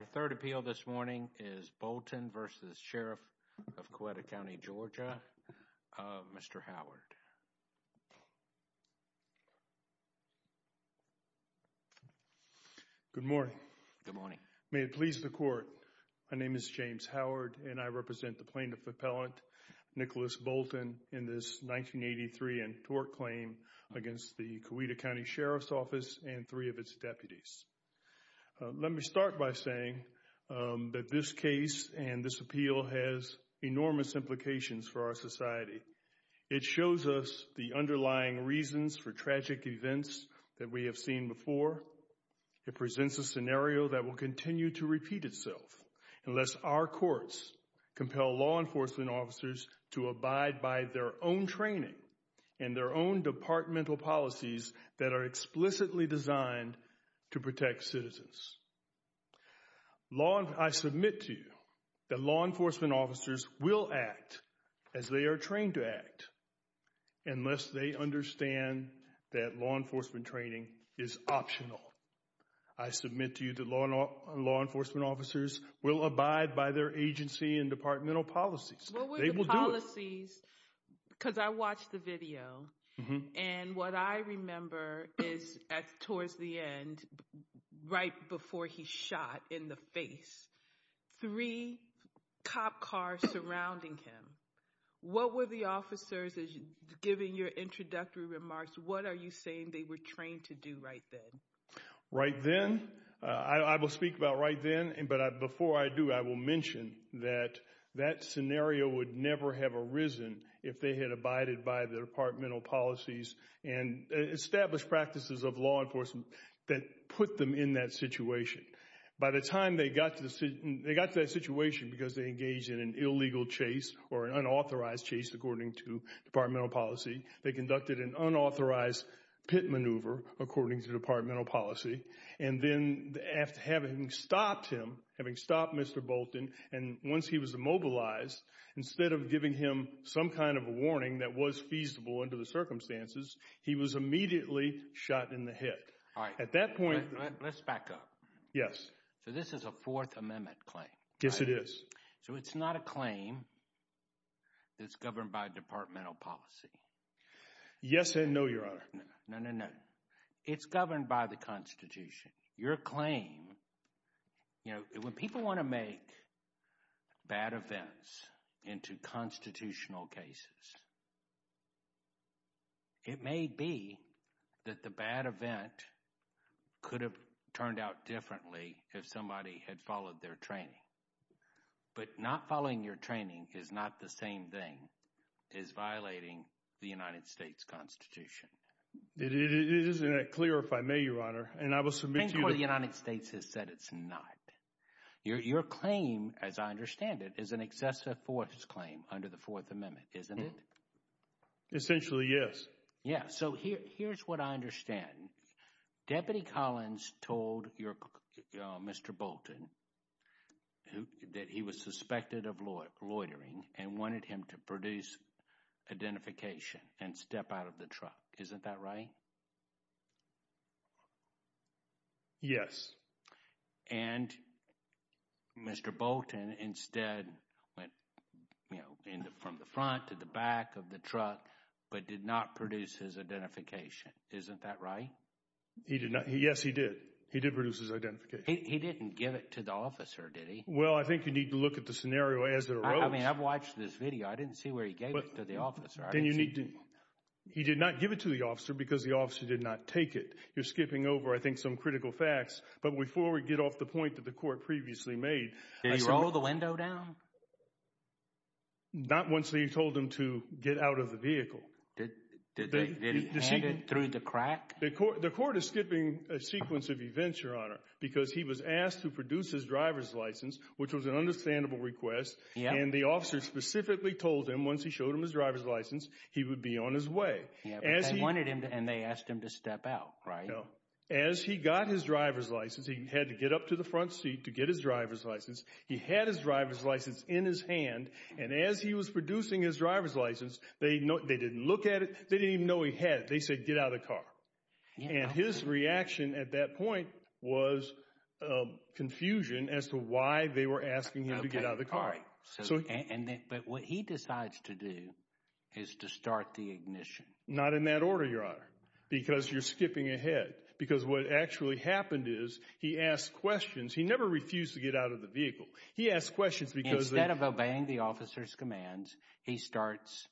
The third appeal this morning is Bolton v. Sheriff of Coweta County, GA. Mr. Howard. Good morning. Good morning. May it please the Court, my name is James Howard and I represent the Plaintiff Appellant Nicholas Bolton in this 1983 and tort claim against the Coweta County Sheriff's Office and three of its deputies. Let me start by saying that this case and this appeal has enormous implications for our society. It shows us the underlying reasons for tragic events that we have seen before. It presents a scenario that will continue to repeat itself unless our courts compel law enforcement officers to abide by their own training and their own departmental policies that are explicitly designed to protect citizens. I submit to you that law enforcement officers will act as they are trained to act unless they understand that law enforcement training is optional. I submit to you that law enforcement officers will abide by their agency and departmental They will do it. I'm curious about the policies because I watched the video and what I remember is towards the end, right before he shot in the face, three cop cars surrounding him. What were the officers, given your introductory remarks, what are you saying they were trained to do right then? Right then? I will speak about right then, but before I do, I will mention that that scenario would never have arisen if they had abided by the departmental policies and established practices of law enforcement that put them in that situation. By the time they got to that situation, because they engaged in an illegal chase or an unauthorized chase according to departmental policy, they conducted an unauthorized pit maneuver, according to departmental policy, and then after having stopped him, having stopped Mr. Bolton, and once he was immobilized, instead of giving him some kind of a warning that was feasible under the circumstances, he was immediately shot in the hip. At that point... Let's back up. Yes. So this is a Fourth Amendment claim. Yes, it is. So it's not a claim that's governed by departmental policy? Yes and no, Your Honor. No, no, no. It's governed by the Constitution. Your claim, you know, when people want to make bad events into constitutional cases, it may be that the bad event could have turned out differently if somebody had followed their training, but not following your training is not the same thing as violating the United States Constitution. It isn't that clear, if I may, Your Honor, and I will submit to you... The Supreme Court of the United States has said it's not. Your claim, as I understand it, is an excessive force claim under the Fourth Amendment, isn't it? Essentially, yes. Yes. So here's what I understand. Deputy Collins told Mr. Bolton that he was suspected of loitering and wanted him to produce identification and step out of the truck, isn't that right? Yes. And Mr. Bolton instead went, you know, from the front to the back of the truck, but did not produce his identification, isn't that right? He did not. Yes, he did. He did produce his identification. He didn't give it to the officer, did he? Well, I think you need to look at the scenario as it arose. I mean, I've watched this video. I didn't see where he gave it to the officer. He did not give it to the officer because the officer did not take it. You're skipping over, I think, some critical facts, but before we get off the point that the court previously made... Did he roll the window down? Not once he told him to get out of the vehicle. Did he hand it through the crack? The court is skipping a sequence of events, Your Honor, because he was asked to produce his driver's license, which was an understandable request, and the officer specifically told him once he showed him his driver's license, he would be on his way. Yeah, but they wanted him to, and they asked him to step out, right? No. As he got his driver's license, he had to get up to the front seat to get his driver's He had his driver's license in his hand, and as he was producing his driver's license, they didn't look at it, they didn't even know he had it. They said, get out of the car. And his reaction at that point was confusion as to why they were asking him to get out of the car. Okay, all right. But what he decides to do is to start the ignition. Not in that order, Your Honor, because you're skipping ahead. Because what actually happened is, he asked questions. He never refused to get out of the vehicle. He asked questions because... Instead of obeying the officer's commands, he starts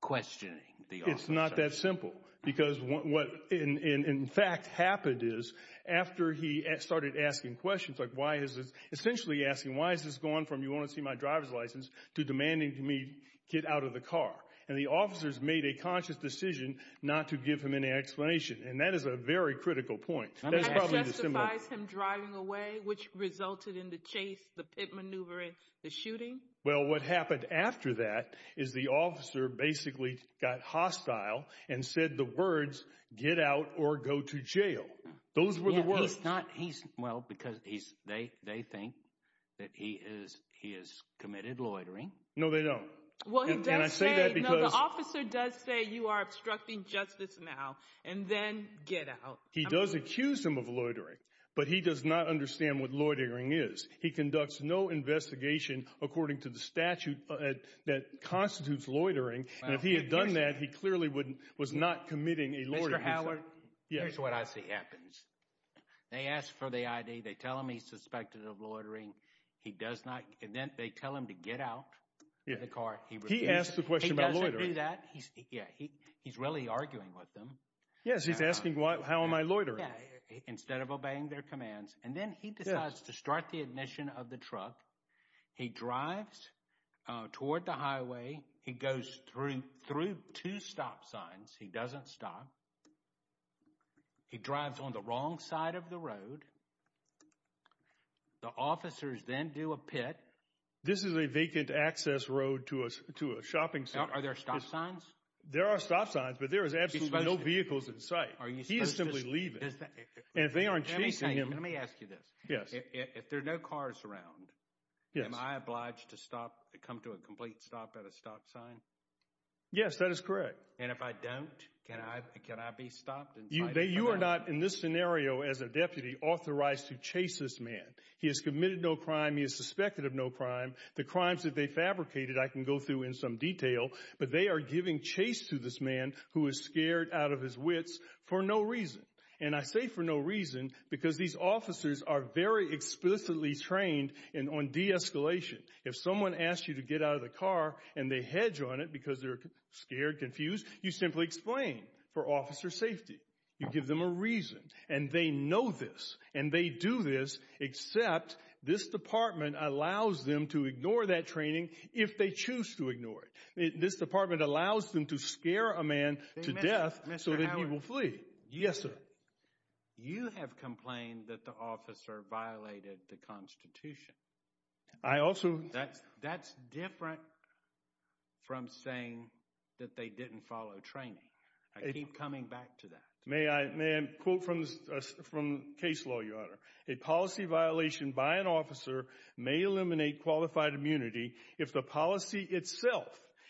questioning the officer. It's not that simple. Because what, in fact, happened is, after he started asking questions, like why is this... Essentially asking, why is this going from, you want to see my driver's license, to demanding to me get out of the car? And the officers made a conscious decision not to give him any explanation. And that is a very critical point. That's probably the symbol. That justifies him driving away, which resulted in the chase, the pit maneuvering, the shooting? Well, what happened after that is, the officer basically got hostile and said the words, get out or go to jail. Those were the words. Yeah, he's not... Well, because they think that he has committed loitering. No, they don't. Well, he does say... And I say that because... No, the officer does say, you are obstructing justice now, and then get out. He does accuse him of loitering, but he does not understand what loitering is. He conducts no investigation according to the statute that constitutes loitering. And if he had done that, he clearly was not committing a loitering offense. Mr. Howard, here's what I see happens. They ask for the ID, they tell him he's suspected of loitering, and then they tell him to get out of the car. He asks the question about loitering. He doesn't do that. He's really arguing with them. Yes, he's asking, how am I loitering? Instead of obeying their commands. And then he decides to start the ignition of the truck. He drives toward the highway. He goes through two stop signs. He doesn't stop. He drives on the wrong side of the road. The officers then do a pit. This is a vacant access road to a shopping center. Are there stop signs? There are stop signs, but there is absolutely no vehicles in sight. He is simply leaving. And if they aren't chasing him... Let me ask you this. Yes. If there are no cars around, am I obliged to come to a complete stop at a stop sign? Yes, that is correct. And if I don't, can I be stopped? You are not, in this scenario, as a deputy, authorized to chase this man. He has committed no crime. He is suspected of no crime. The crimes that they fabricated I can go through in some detail, but they are giving chase to this man who is scared out of his wits for no reason. And I say for no reason because these officers are very explicitly trained on de-escalation. If someone asks you to get out of the car and they hedge on it because they are scared, confused, you simply explain for officer safety. You give them a reason. And they know this. And they do this, except this department allows them to ignore that training if they choose to ignore it. This department allows them to scare a man to death so that he will flee. Yes, sir. You have complained that the officer violated the Constitution. I also... That's different from saying that they didn't follow training. I keep coming back to that. May I quote from the case law, Your Honor? A policy violation by an officer may eliminate qualified immunity if the policy itself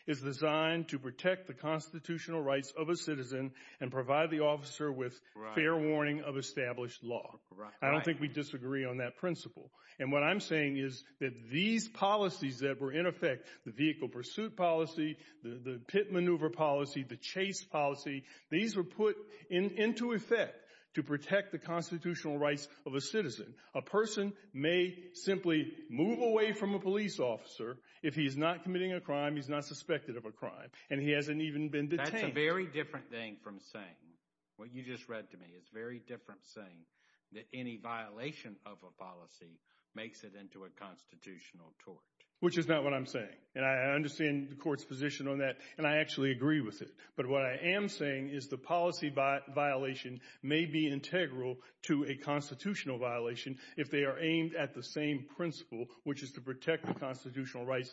is designed to protect the constitutional rights of a citizen and provide the officer with fair warning of established law. I don't think we disagree on that principle. And what I'm saying is that these policies that were in effect, the vehicle pursuit policy, the pit maneuver policy, the chase policy, these were put into effect to protect the constitutional rights of a citizen. A person may simply move away from a police officer if he's not committing a crime, he's not suspected of a crime, and he hasn't even been detained. That's a very different thing from saying, what you just read to me, it's a very different saying that any violation of a policy makes it into a constitutional tort. Which is not what I'm saying. And I understand the court's position on that, and I actually agree with it. But what I am saying is the policy violation may be integral to a constitutional violation if they are aimed at the same principle, which is to protect the constitutional rights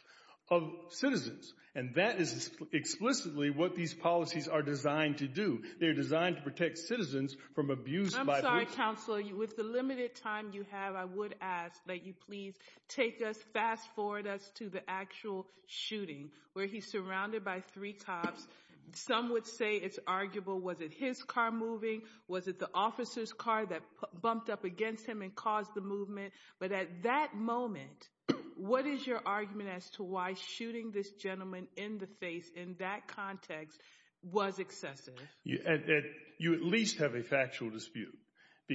of citizens. And that is explicitly what these policies are designed to do. They are designed to protect citizens from abuse by police. I'm sorry, Counselor, with the limited time you have, I would ask that you please take us, fast forward us to the actual shooting, where he's surrounded by three cops. Some would say it's arguable, was it his car moving? Was it the officer's car that bumped up against him and caused the movement? But at that moment, what is your argument as to why shooting this gentleman in the face in that context was excessive? You at least have a factual dispute.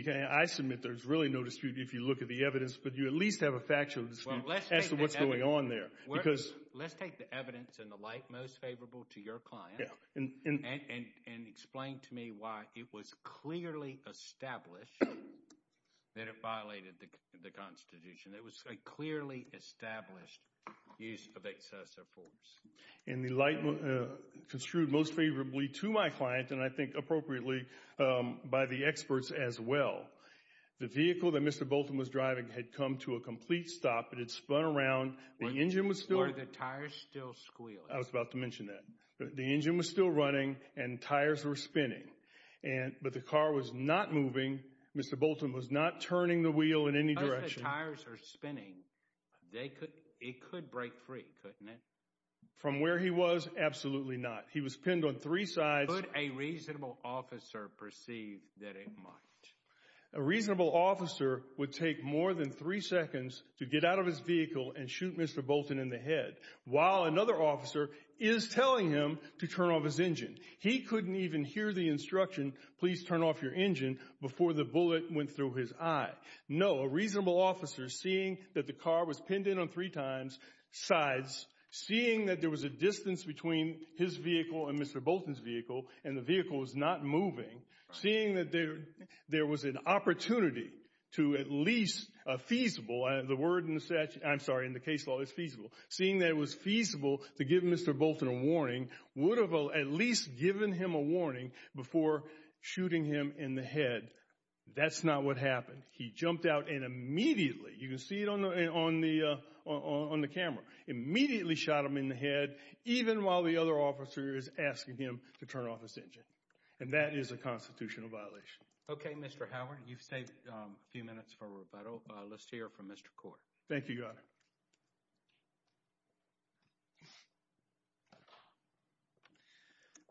I submit there's really no dispute if you look at the evidence, but you at least have a factual dispute as to what's going on there. Let's take the evidence and the light most favorable to your client and explain to me why it was clearly established that it violated the Constitution. It was a clearly established use of excessive force. In the light construed most favorably to my client, and I think appropriately by the experts as well, the vehicle that Mr. Bolton was driving had come to a complete stop, it had spun around, the engine was still running. Were the tires still squealing? I was about to mention that. The engine was still running and tires were spinning, but the car was not moving. Mr. Bolton was not turning the wheel in any direction. Because the tires were spinning, it could break free, couldn't it? From where he was, absolutely not. He was pinned on three sides. Could a reasonable officer perceive that it might? A reasonable officer would take more than three seconds to get out of his vehicle and shoot Mr. Bolton in the head, while another officer is telling him to turn off his engine. He couldn't even hear the instruction, please turn off your engine, before the bullet went through his eye. No, a reasonable officer seeing that the car was pinned in on three sides, seeing that there was a distance between his vehicle and Mr. Bolton's vehicle, and the vehicle was not moving, seeing that there was an opportunity to at least, feasible, the word in the case law is feasible, seeing that it was feasible to give Mr. Bolton a warning, would have at least given him a warning before shooting him in the head. That's not what happened. He jumped out and immediately, you can see it on the camera, immediately shot him in the head, even while the other officer is asking him to turn off his engine. And that is a constitutional violation. Okay, Mr. Howard, you've saved a few minutes for rebuttal. Let's hear from Mr. Court. Thank you, Your Honor.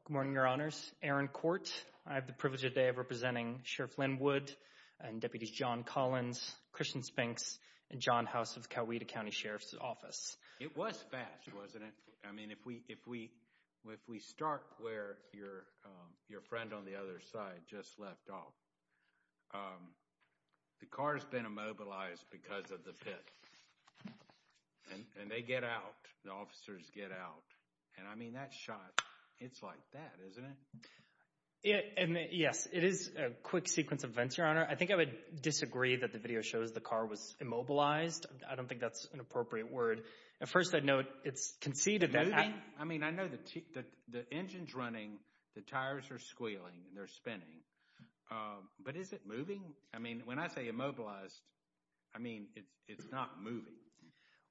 Good morning, Your Honors. Aaron Court. I have the privilege today of representing Sheriff Len Wood and Deputies John Collins, Christian Spinks, and John House of Coweta County Sheriff's Office. It was fast, wasn't it? I mean, if we start where your friend on the other side just left off, the car's been immobilized because of the pit. And they get out, the officers get out, and I mean, that shot, it's like that, isn't it? Yes, it is a quick sequence of events, Your Honor. I think I would disagree that the video shows the car was immobilized. I don't think that's an appropriate word. At first, I'd note it's conceded that— I mean, I know the engine's running, the tires are squealing, they're spinning, but is it I mean, when I say immobilized, I mean, it's not moving.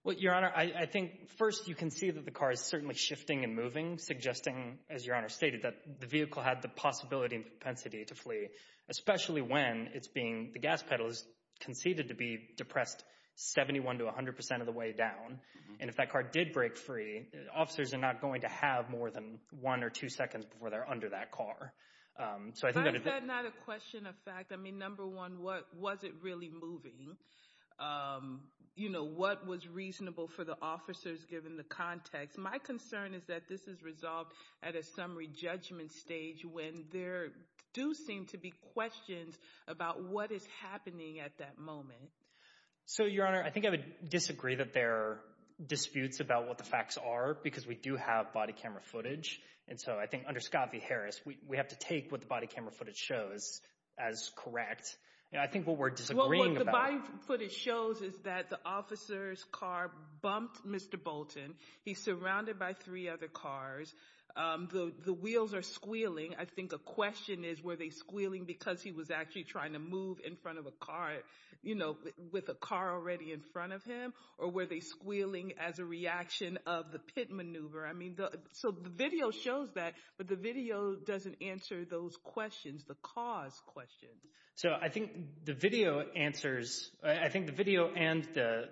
Well, Your Honor, I think, first, you can see that the car is certainly shifting and moving, suggesting, as Your Honor stated, that the vehicle had the possibility and the gas pedal is conceded to be depressed 71 to 100 percent of the way down. And if that car did break free, officers are not going to have more than one or two seconds before they're under that car. But is that not a question of fact? I mean, number one, was it really moving? You know, what was reasonable for the officers given the context? My concern is that this is resolved at a summary judgment stage when there do seem to be questions about what is happening at that moment. So, Your Honor, I think I would disagree that there are disputes about what the facts are because we do have body camera footage. And so I think under Scott v. Harris, we have to take what the body camera footage shows as correct. I think what we're disagreeing about— Well, what the body footage shows is that the officer's car bumped Mr. Bolton. He's surrounded by three other cars. The wheels are squealing. I think a question is were they squealing because he was actually trying to move in front of a car, you know, with a car already in front of him? Or were they squealing as a reaction of the pit maneuver? So the video shows that, but the video doesn't answer those questions, the cause questions. So I think the video answers—I think the video and the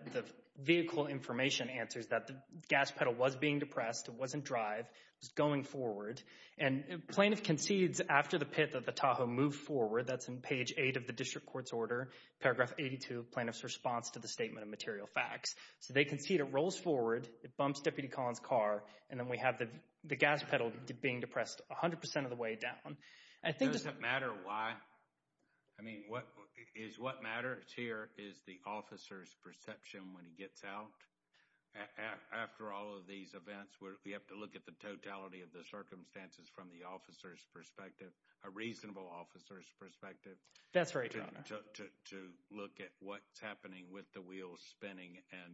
vehicle information answers that the gas pedal was being depressed. It wasn't drive. It was going forward. And plaintiff concedes after the pit of the Tahoe moved forward. That's in page 8 of the district court's order, paragraph 82 of plaintiff's response to the statement of material facts. So they concede. It rolls forward. It bumps Deputy Collins' car. And then we have the gas pedal being depressed 100 percent of the way down. I think— Does it matter why? I mean, is what matters here is the officer's perception when he gets out? After all of these events, we have to look at the totality of the circumstances from the officer's perspective, a reasonable officer's perspective. That's right, Your Honor. To look at what's happening with the wheels spinning and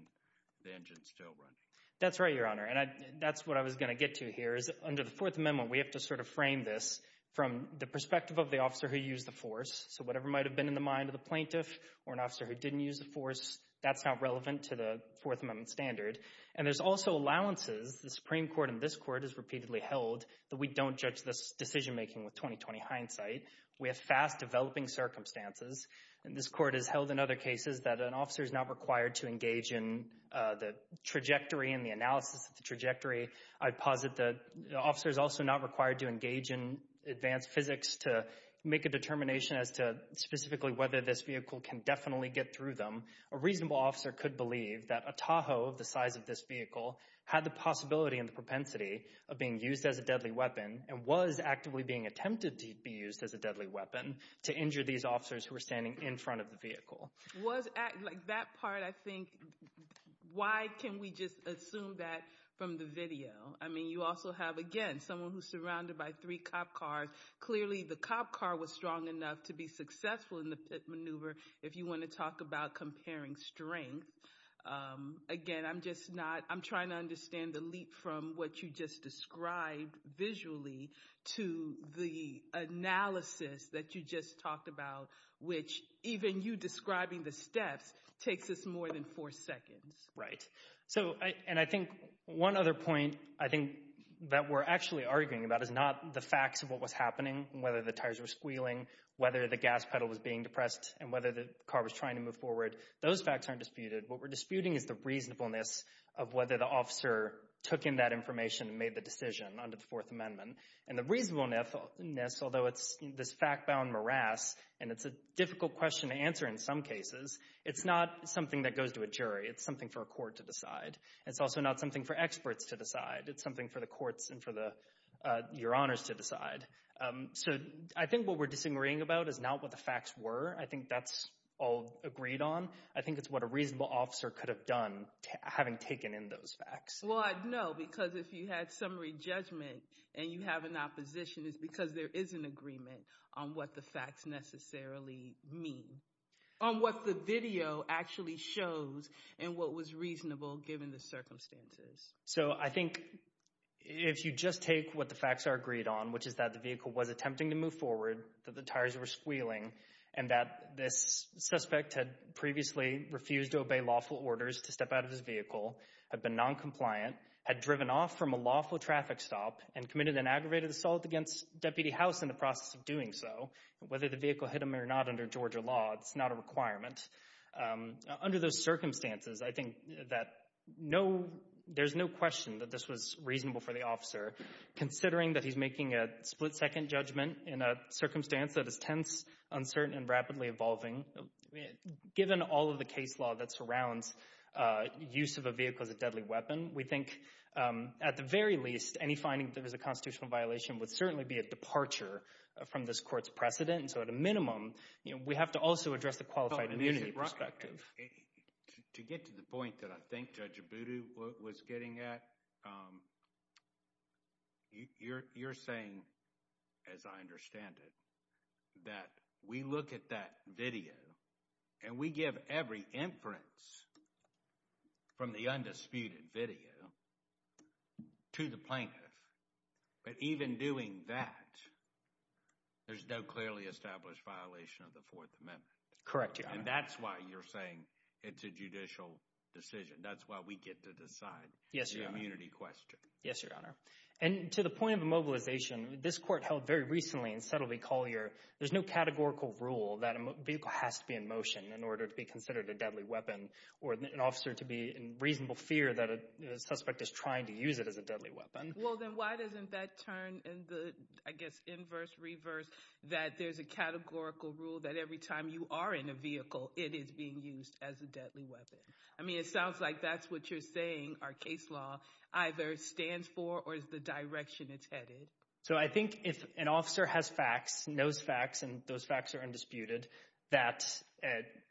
the engine still running. That's right, Your Honor. And that's what I was going to get to here is under the Fourth Amendment, we have to sort of frame this from the perspective of the officer who used the force. So whatever might have been in the mind of the plaintiff or an officer who didn't use the force, that's not relevant to the Fourth Amendment standard. And there's also allowances. The Supreme Court and this court has repeatedly held that we don't judge this decision-making with 20-20 hindsight. We have fast-developing circumstances. And this court has held in other cases that an officer is not required to engage in the trajectory and the analysis of the trajectory. I'd posit that the officer is also not required to engage in advanced physics to make a determination as to specifically whether this vehicle can definitely get through them. A reasonable officer could believe that a Tahoe the size of this vehicle had the possibility and the propensity of being used as a deadly weapon and was actively being attempted to be used as a deadly weapon to injure these officers who were standing in front of the vehicle. That part, I think, why can we just assume that from the video? I mean, you also have, again, someone who's surrounded by three cop cars. Clearly, the cop car was strong enough to be successful in the pit maneuver if you want to talk about comparing strength. Again, I'm trying to understand the leap from what you just described visually to the analysis that you just talked about, which even you describing the steps takes us more than four seconds. Right. And I think one other point I think that we're actually arguing about is not the facts of what was happening, whether the tires were squealing, whether the gas pedal was being depressed, and whether the car was trying to move forward. Those facts aren't disputed. What we're disputing is the reasonableness of whether the officer took in that information and made the decision under the Fourth Amendment. And the reasonableness, although it's this fact-bound morass, and it's a difficult question to answer in some cases, it's not something that goes to a jury. It's something for a court to decide. It's also not something for experts to decide. It's something for the courts and for your honors to decide. So I think what we're disagreeing about is not what the facts were. I think that's all agreed on. I think it's what a reasonable officer could have done having taken in those facts. Well, I'd know, because if you had summary judgment and you have an opposition, it's because there is an agreement on what the facts necessarily mean. On what the video actually shows and what was reasonable given the circumstances. So I think if you just take what the facts are agreed on, which is that the vehicle was attempting to move forward, that the tires were squealing, and that this suspect had previously refused to obey lawful orders to step out of his vehicle, had been noncompliant, had driven off from a lawful traffic stop, and committed an aggravated assault against Deputy House in the process of doing so, whether the vehicle hit him or not under Georgia law, it's not a requirement. Under those circumstances, I think that there's no question that this was reasonable for the officer. Considering that he's making a split-second judgment in a circumstance that is tense, uncertain, and rapidly evolving, given all of the case law that surrounds use of a vehicle as a deadly weapon, we think at the very least any finding that there was a constitutional violation would certainly be a departure from this court's precedent. So at a minimum, we have to also address the qualified immunity perspective. To get to the point that I think Judge Abudu was getting at, you're saying, as I understand it, that we look at that video and we give every inference from the undisputed video to the plaintiff, but even doing that, there's no clearly established violation of the Fourth Amendment. Correct, Your Honor. And that's why you're saying it's a judicial decision. That's why we get to decide the immunity question. Yes, Your Honor. And to the point of immobilization, this court held very recently in Settle v. Collier, there's no categorical rule that a vehicle has to be in motion in order to be considered a deadly weapon or an officer to be in reasonable fear that a suspect is trying to use it as a deadly weapon. Well, then why doesn't that turn in the, I guess, inverse, reverse, that there's a categorical rule that every time you are in a vehicle, it is being used as a deadly weapon? I mean, it sounds like that's what you're saying our case law either stands for or is the direction it's headed. So I think if an officer has facts, knows facts, and those facts are undisputed, that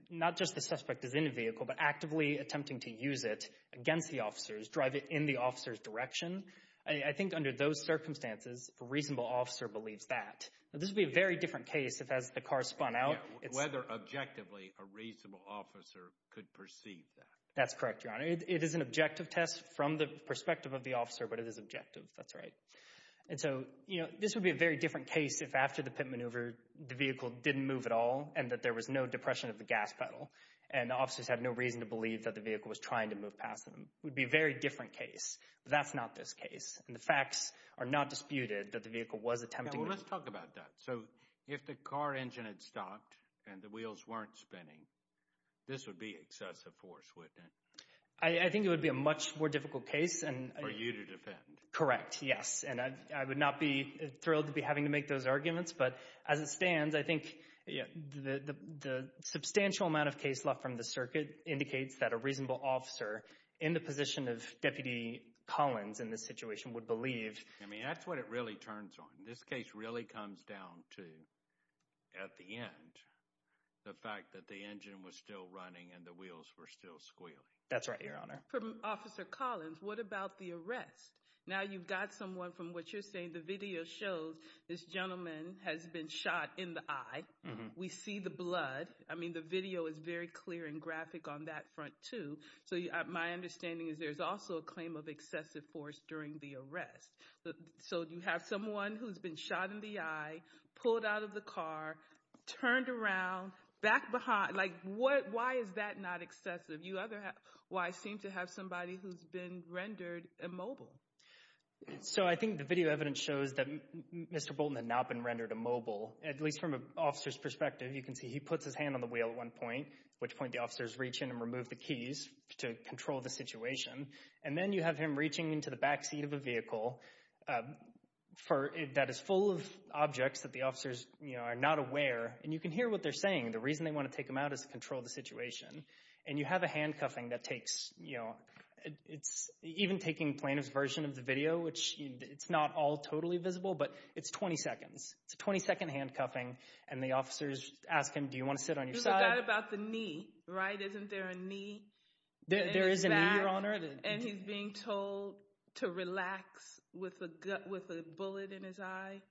not just the suspect is in a vehicle, but actively attempting to use it against the officers, drive it in the officer's direction, I think under those circumstances a reasonable officer believes that. This would be a very different case if as the car spun out. Whether objectively a reasonable officer could perceive that. That's correct, Your Honor. It is an objective test from the perspective of the officer, but it is objective. That's right. And so this would be a very different case if after the pit maneuver the vehicle didn't move at all and that there was no depression of the gas pedal and the officers had no reason to believe that the vehicle was trying to move past them. It would be a very different case, but that's not this case. And the facts are not disputed that the vehicle was attempting to move. Now, let's talk about that. So if the car engine had stopped and the wheels weren't spinning, this would be excessive force, wouldn't it? I think it would be a much more difficult case. For you to defend. Correct, yes. And I would not be thrilled to be having to make those arguments, but as it stands, I think the substantial amount of case law from the circuit indicates that a reasonable officer in the position of Deputy Collins in this situation would believe. I mean, that's what it really turns on. This case really comes down to, at the end, the fact that the engine was still running and the wheels were still squealing. That's right, Your Honor. From Officer Collins, what about the arrest? Now you've got someone from what you're saying. The video shows this gentleman has been shot in the eye. We see the blood. I mean, the video is very clear and graphic on that front, too. So my understanding is there's also a claim of excessive force during the arrest. So you have someone who's been shot in the eye, pulled out of the car, turned around, back behind. Like, why is that not excessive? You seem to have somebody who's been rendered immobile. So I think the video evidence shows that Mr. Bolton had not been rendered immobile, at least from an officer's perspective. You can see he puts his hand on the wheel at one point, at which point the officers reach in and remove the keys to control the situation. And then you have him reaching into the back seat of a vehicle that is full of objects that the officers are not aware. And you can hear what they're saying. The reason they want to take him out is to control the situation. And you have a handcuffing that takes, you know, even taking plaintiff's version of the video, which it's not all totally visible, but it's 20 seconds. It's a 20-second handcuffing, and the officers ask him, do you want to sit on your side? You forgot about the knee, right? Isn't there a knee? There is a knee, Your Honor. And he's being told to relax with a bullet in his eye.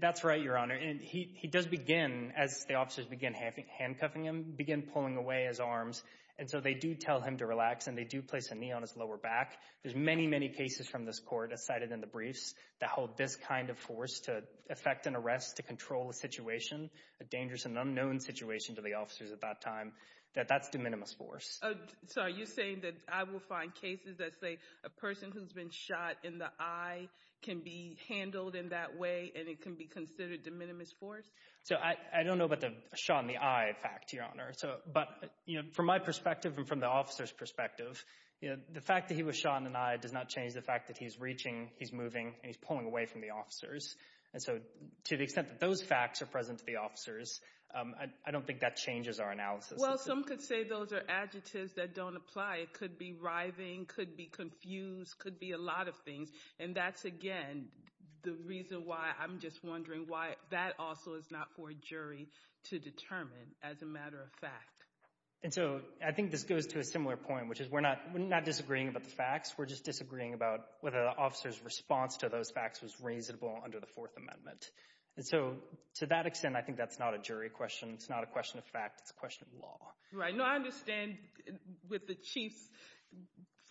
That's right, Your Honor. And he does begin, as the officers begin handcuffing him, begin pulling away his arms. And so they do tell him to relax, and they do place a knee on his lower back. There's many, many cases from this court, as cited in the briefs, that hold this kind of force to effect an arrest to control a situation, a dangerous and unknown situation to the officers at that time. That's de minimis force. So are you saying that I will find cases that say a person who's been shot in the eye can be handled in that way and it can be considered de minimis force? I don't know about the shot in the eye fact, Your Honor. But from my perspective and from the officer's perspective, the fact that he was shot in the eye does not change the fact that he's reaching, he's moving, and he's pulling away from the officers. And so to the extent that those facts are present to the officers, I don't think that changes our analysis. Well, some could say those are adjectives that don't apply. It could be writhing, could be confused, could be a lot of things. And that's, again, the reason why I'm just wondering why that also is not for a jury to determine, as a matter of fact. And so I think this goes to a similar point, which is we're not disagreeing about the facts. We're just disagreeing about whether the officer's response to those facts was reasonable under the Fourth Amendment. And so to that extent, I think that's not a jury question. It's not a question of fact. It's a question of law. Right. No, I understand with the Chief's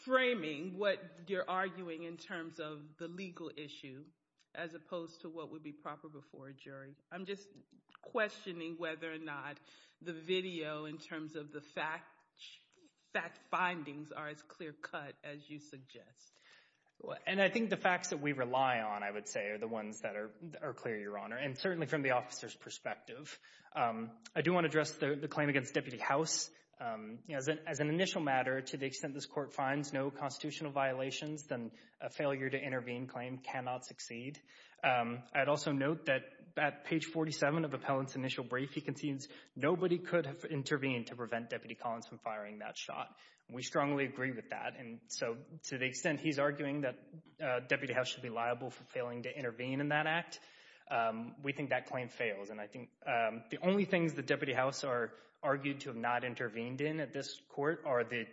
framing what you're arguing in terms of the legal issue as opposed to what would be proper before a jury. I'm just questioning whether or not the video in terms of the fact findings are as clear cut as you suggest. And I think the facts that we rely on, I would say, are the ones that are clear, Your Honor, and certainly from the officer's perspective. I do want to address the claim against Deputy House. As an initial matter, to the extent this court finds no constitutional violations, then a failure to intervene claim cannot succeed. I'd also note that at page 47 of Appellant's initial brief, he concedes nobody could have intervened to prevent Deputy Collins from firing that shot. We strongly agree with that. And so to the extent he's arguing that Deputy House should be liable for failing to intervene in that act, we think that claim fails. And I think the only things that Deputy House are argued to have not intervened in at this court are the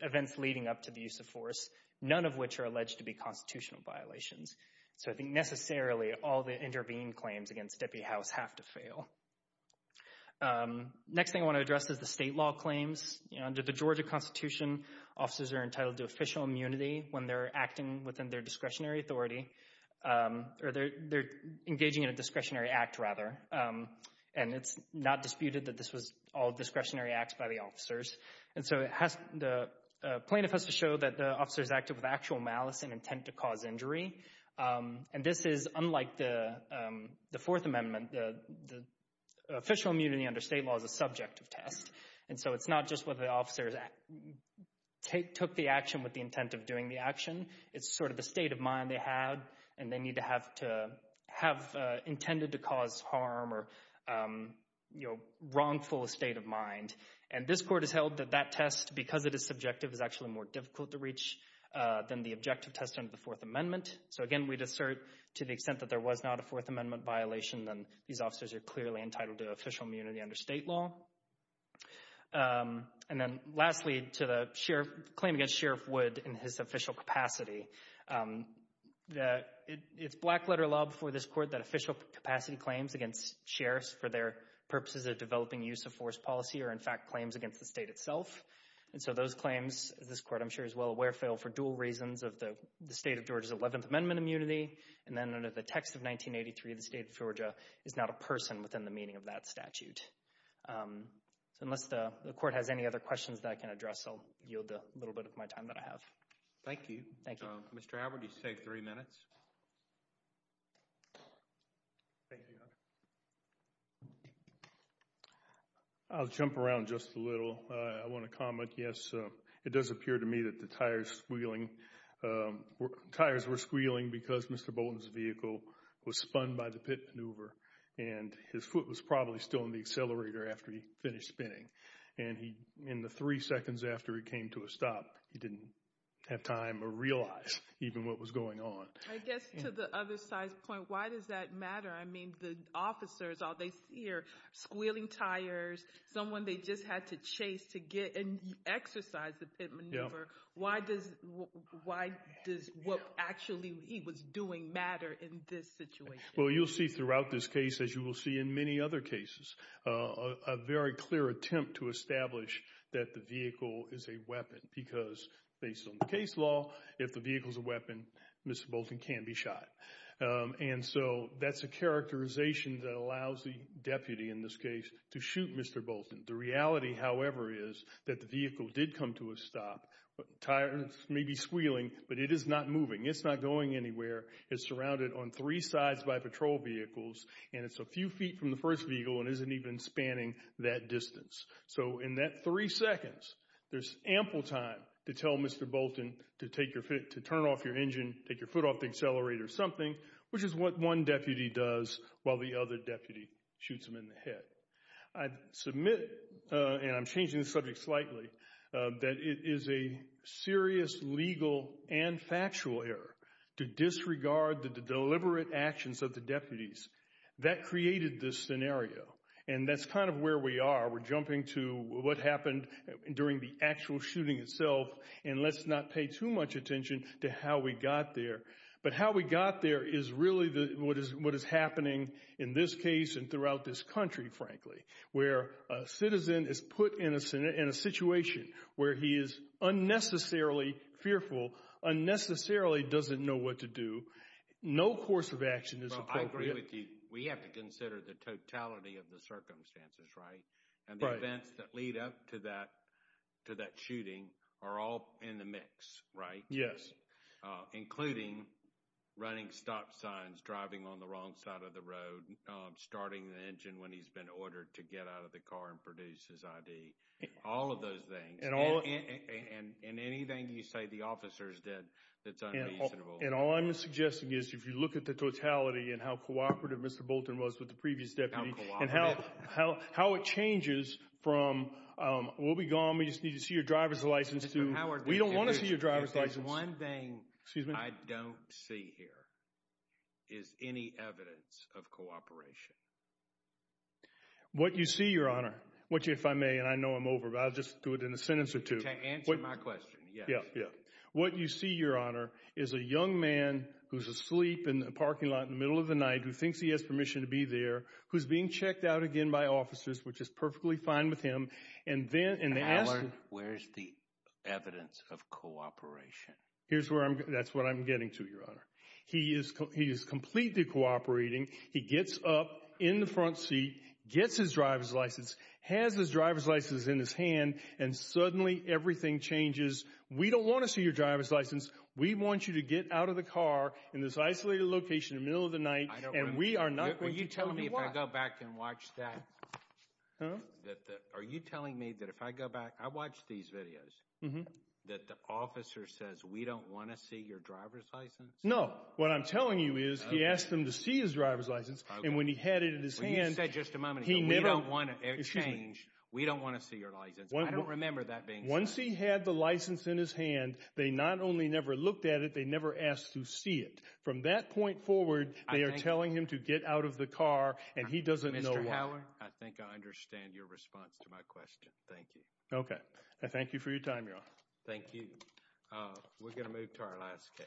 events leading up to the use of force, none of which are alleged to be constitutional violations. So I think necessarily all the intervened claims against Deputy House have to fail. Next thing I want to address is the state law claims. Under the Georgia Constitution, officers are entitled to official immunity when they're acting within their discretionary authority or they're engaging in a discretionary act, rather. And it's not disputed that this was all discretionary acts by the officers. And so the plaintiff has to show that the officers acted with actual malice in intent to cause injury. And this is unlike the Fourth Amendment. The official immunity under state law is a subjective test. And so it's not just whether the officers took the action with the intent of doing the action. It's sort of the state of mind they had, and they need to have intended to cause harm or wrongful state of mind. And this court has held that that test, because it is subjective, is actually more difficult to reach than the objective test under the Fourth Amendment. So again, we'd assert to the extent that there was not a Fourth Amendment violation, then these officers are clearly entitled to official immunity under state law. And then lastly, to the claim against Sheriff Wood in his official capacity. It's black-letter law before this court that official capacity claims against sheriffs for their purposes of developing use-of-force policy are, in fact, claims against the state itself. And so those claims, this court I'm sure is well aware, fail for dual reasons of the state of Georgia's Eleventh Amendment immunity and then under the text of 1983, the state of Georgia is not a person within the meaning of that statute. So unless the court has any other questions that I can address, I'll yield the little bit of my time that I have. Thank you. Thank you. Mr. Albert, you have three minutes. I'll jump around just a little. I want to comment. Yes, it does appear to me that the tires were squealing because Mr. Bolton's vehicle was spun by the pit maneuver and his foot was probably still in the accelerator after he finished spinning. And in the three seconds after he came to a stop, he didn't have time to realize even what was going on. I guess to the other side's point, why does that matter? I mean, the officers, all they see are squealing tires, someone they just had to chase to get and exercise the pit maneuver. Why does what actually he was doing matter in this situation? Well, you'll see throughout this case, as you will see in many other cases, a very clear attempt to establish that the vehicle is a weapon because based on the case law, if the vehicle is a weapon, Mr. Bolton can be shot. And so that's a characterization that allows the deputy in this case to shoot Mr. Bolton. The reality, however, is that the vehicle did come to a stop. The tires may be squealing, but it is not moving. It's not going anywhere. It's surrounded on three sides by patrol vehicles, and it's a few feet from the first vehicle and isn't even spanning that distance. So in that three seconds, there's ample time to tell Mr. Bolton to turn off your engine, take your foot off the accelerator or something, which is what one deputy does while the other deputy shoots him in the head. I submit, and I'm changing the subject slightly, that it is a serious legal and factual error to disregard the deliberate actions of the deputies. That created this scenario, and that's kind of where we are. We're jumping to what happened during the actual shooting itself, and let's not pay too much attention to how we got there. But how we got there is really what is happening in this case and throughout this country, frankly, where a citizen is put in a situation where he is unnecessarily fearful, unnecessarily doesn't know what to do. No course of action is appropriate. Well, I agree with you. We have to consider the totality of the circumstances, right? And the events that lead up to that shooting are all in the mix, right? Yes. Including running stop signs, driving on the wrong side of the road, starting the engine when he's been ordered to get out of the car and produce his ID. All of those things. And anything you say the officers did that's unreasonable. And all I'm suggesting is if you look at the totality and how cooperative Mr. Bolton was with the previous deputy. And how it changes from we'll be gone, we just need to see your driver's license to we don't want to see your driver's license. One thing I don't see here is any evidence of cooperation. What you see, Your Honor, which if I may, and I know I'm over, but I'll just do it in a sentence or two. To answer my question, yes. What you see, Your Honor, is a young man who's asleep in the parking lot in the middle of the night, who thinks he has permission to be there, who's being checked out again by officers, which is perfectly fine with him. Where's the evidence of cooperation? That's what I'm getting to, Your Honor. He is completely cooperating. He gets up in the front seat, gets his driver's license, has his driver's license in his hand, and suddenly everything changes. We don't want to see your driver's license. We want you to get out of the car in this isolated location in the middle of the night. Are you telling me if I go back and watch that, are you telling me that if I go back, I watch these videos, that the officer says, we don't want to see your driver's license? No. What I'm telling you is he asked them to see his driver's license, and when he had it in his hand, he never – You said just a moment ago, we don't want to change, we don't want to see your license. I don't remember that being said. Once he had the license in his hand, they not only never looked at it, they never asked to see it. From that point forward, they are telling him to get out of the car, and he doesn't know why. Mr. Howard, I think I understand your response to my question. Thank you. Okay. I thank you for your time, Your Honor. Thank you. We're going to move to our last case. Okay. Thank you.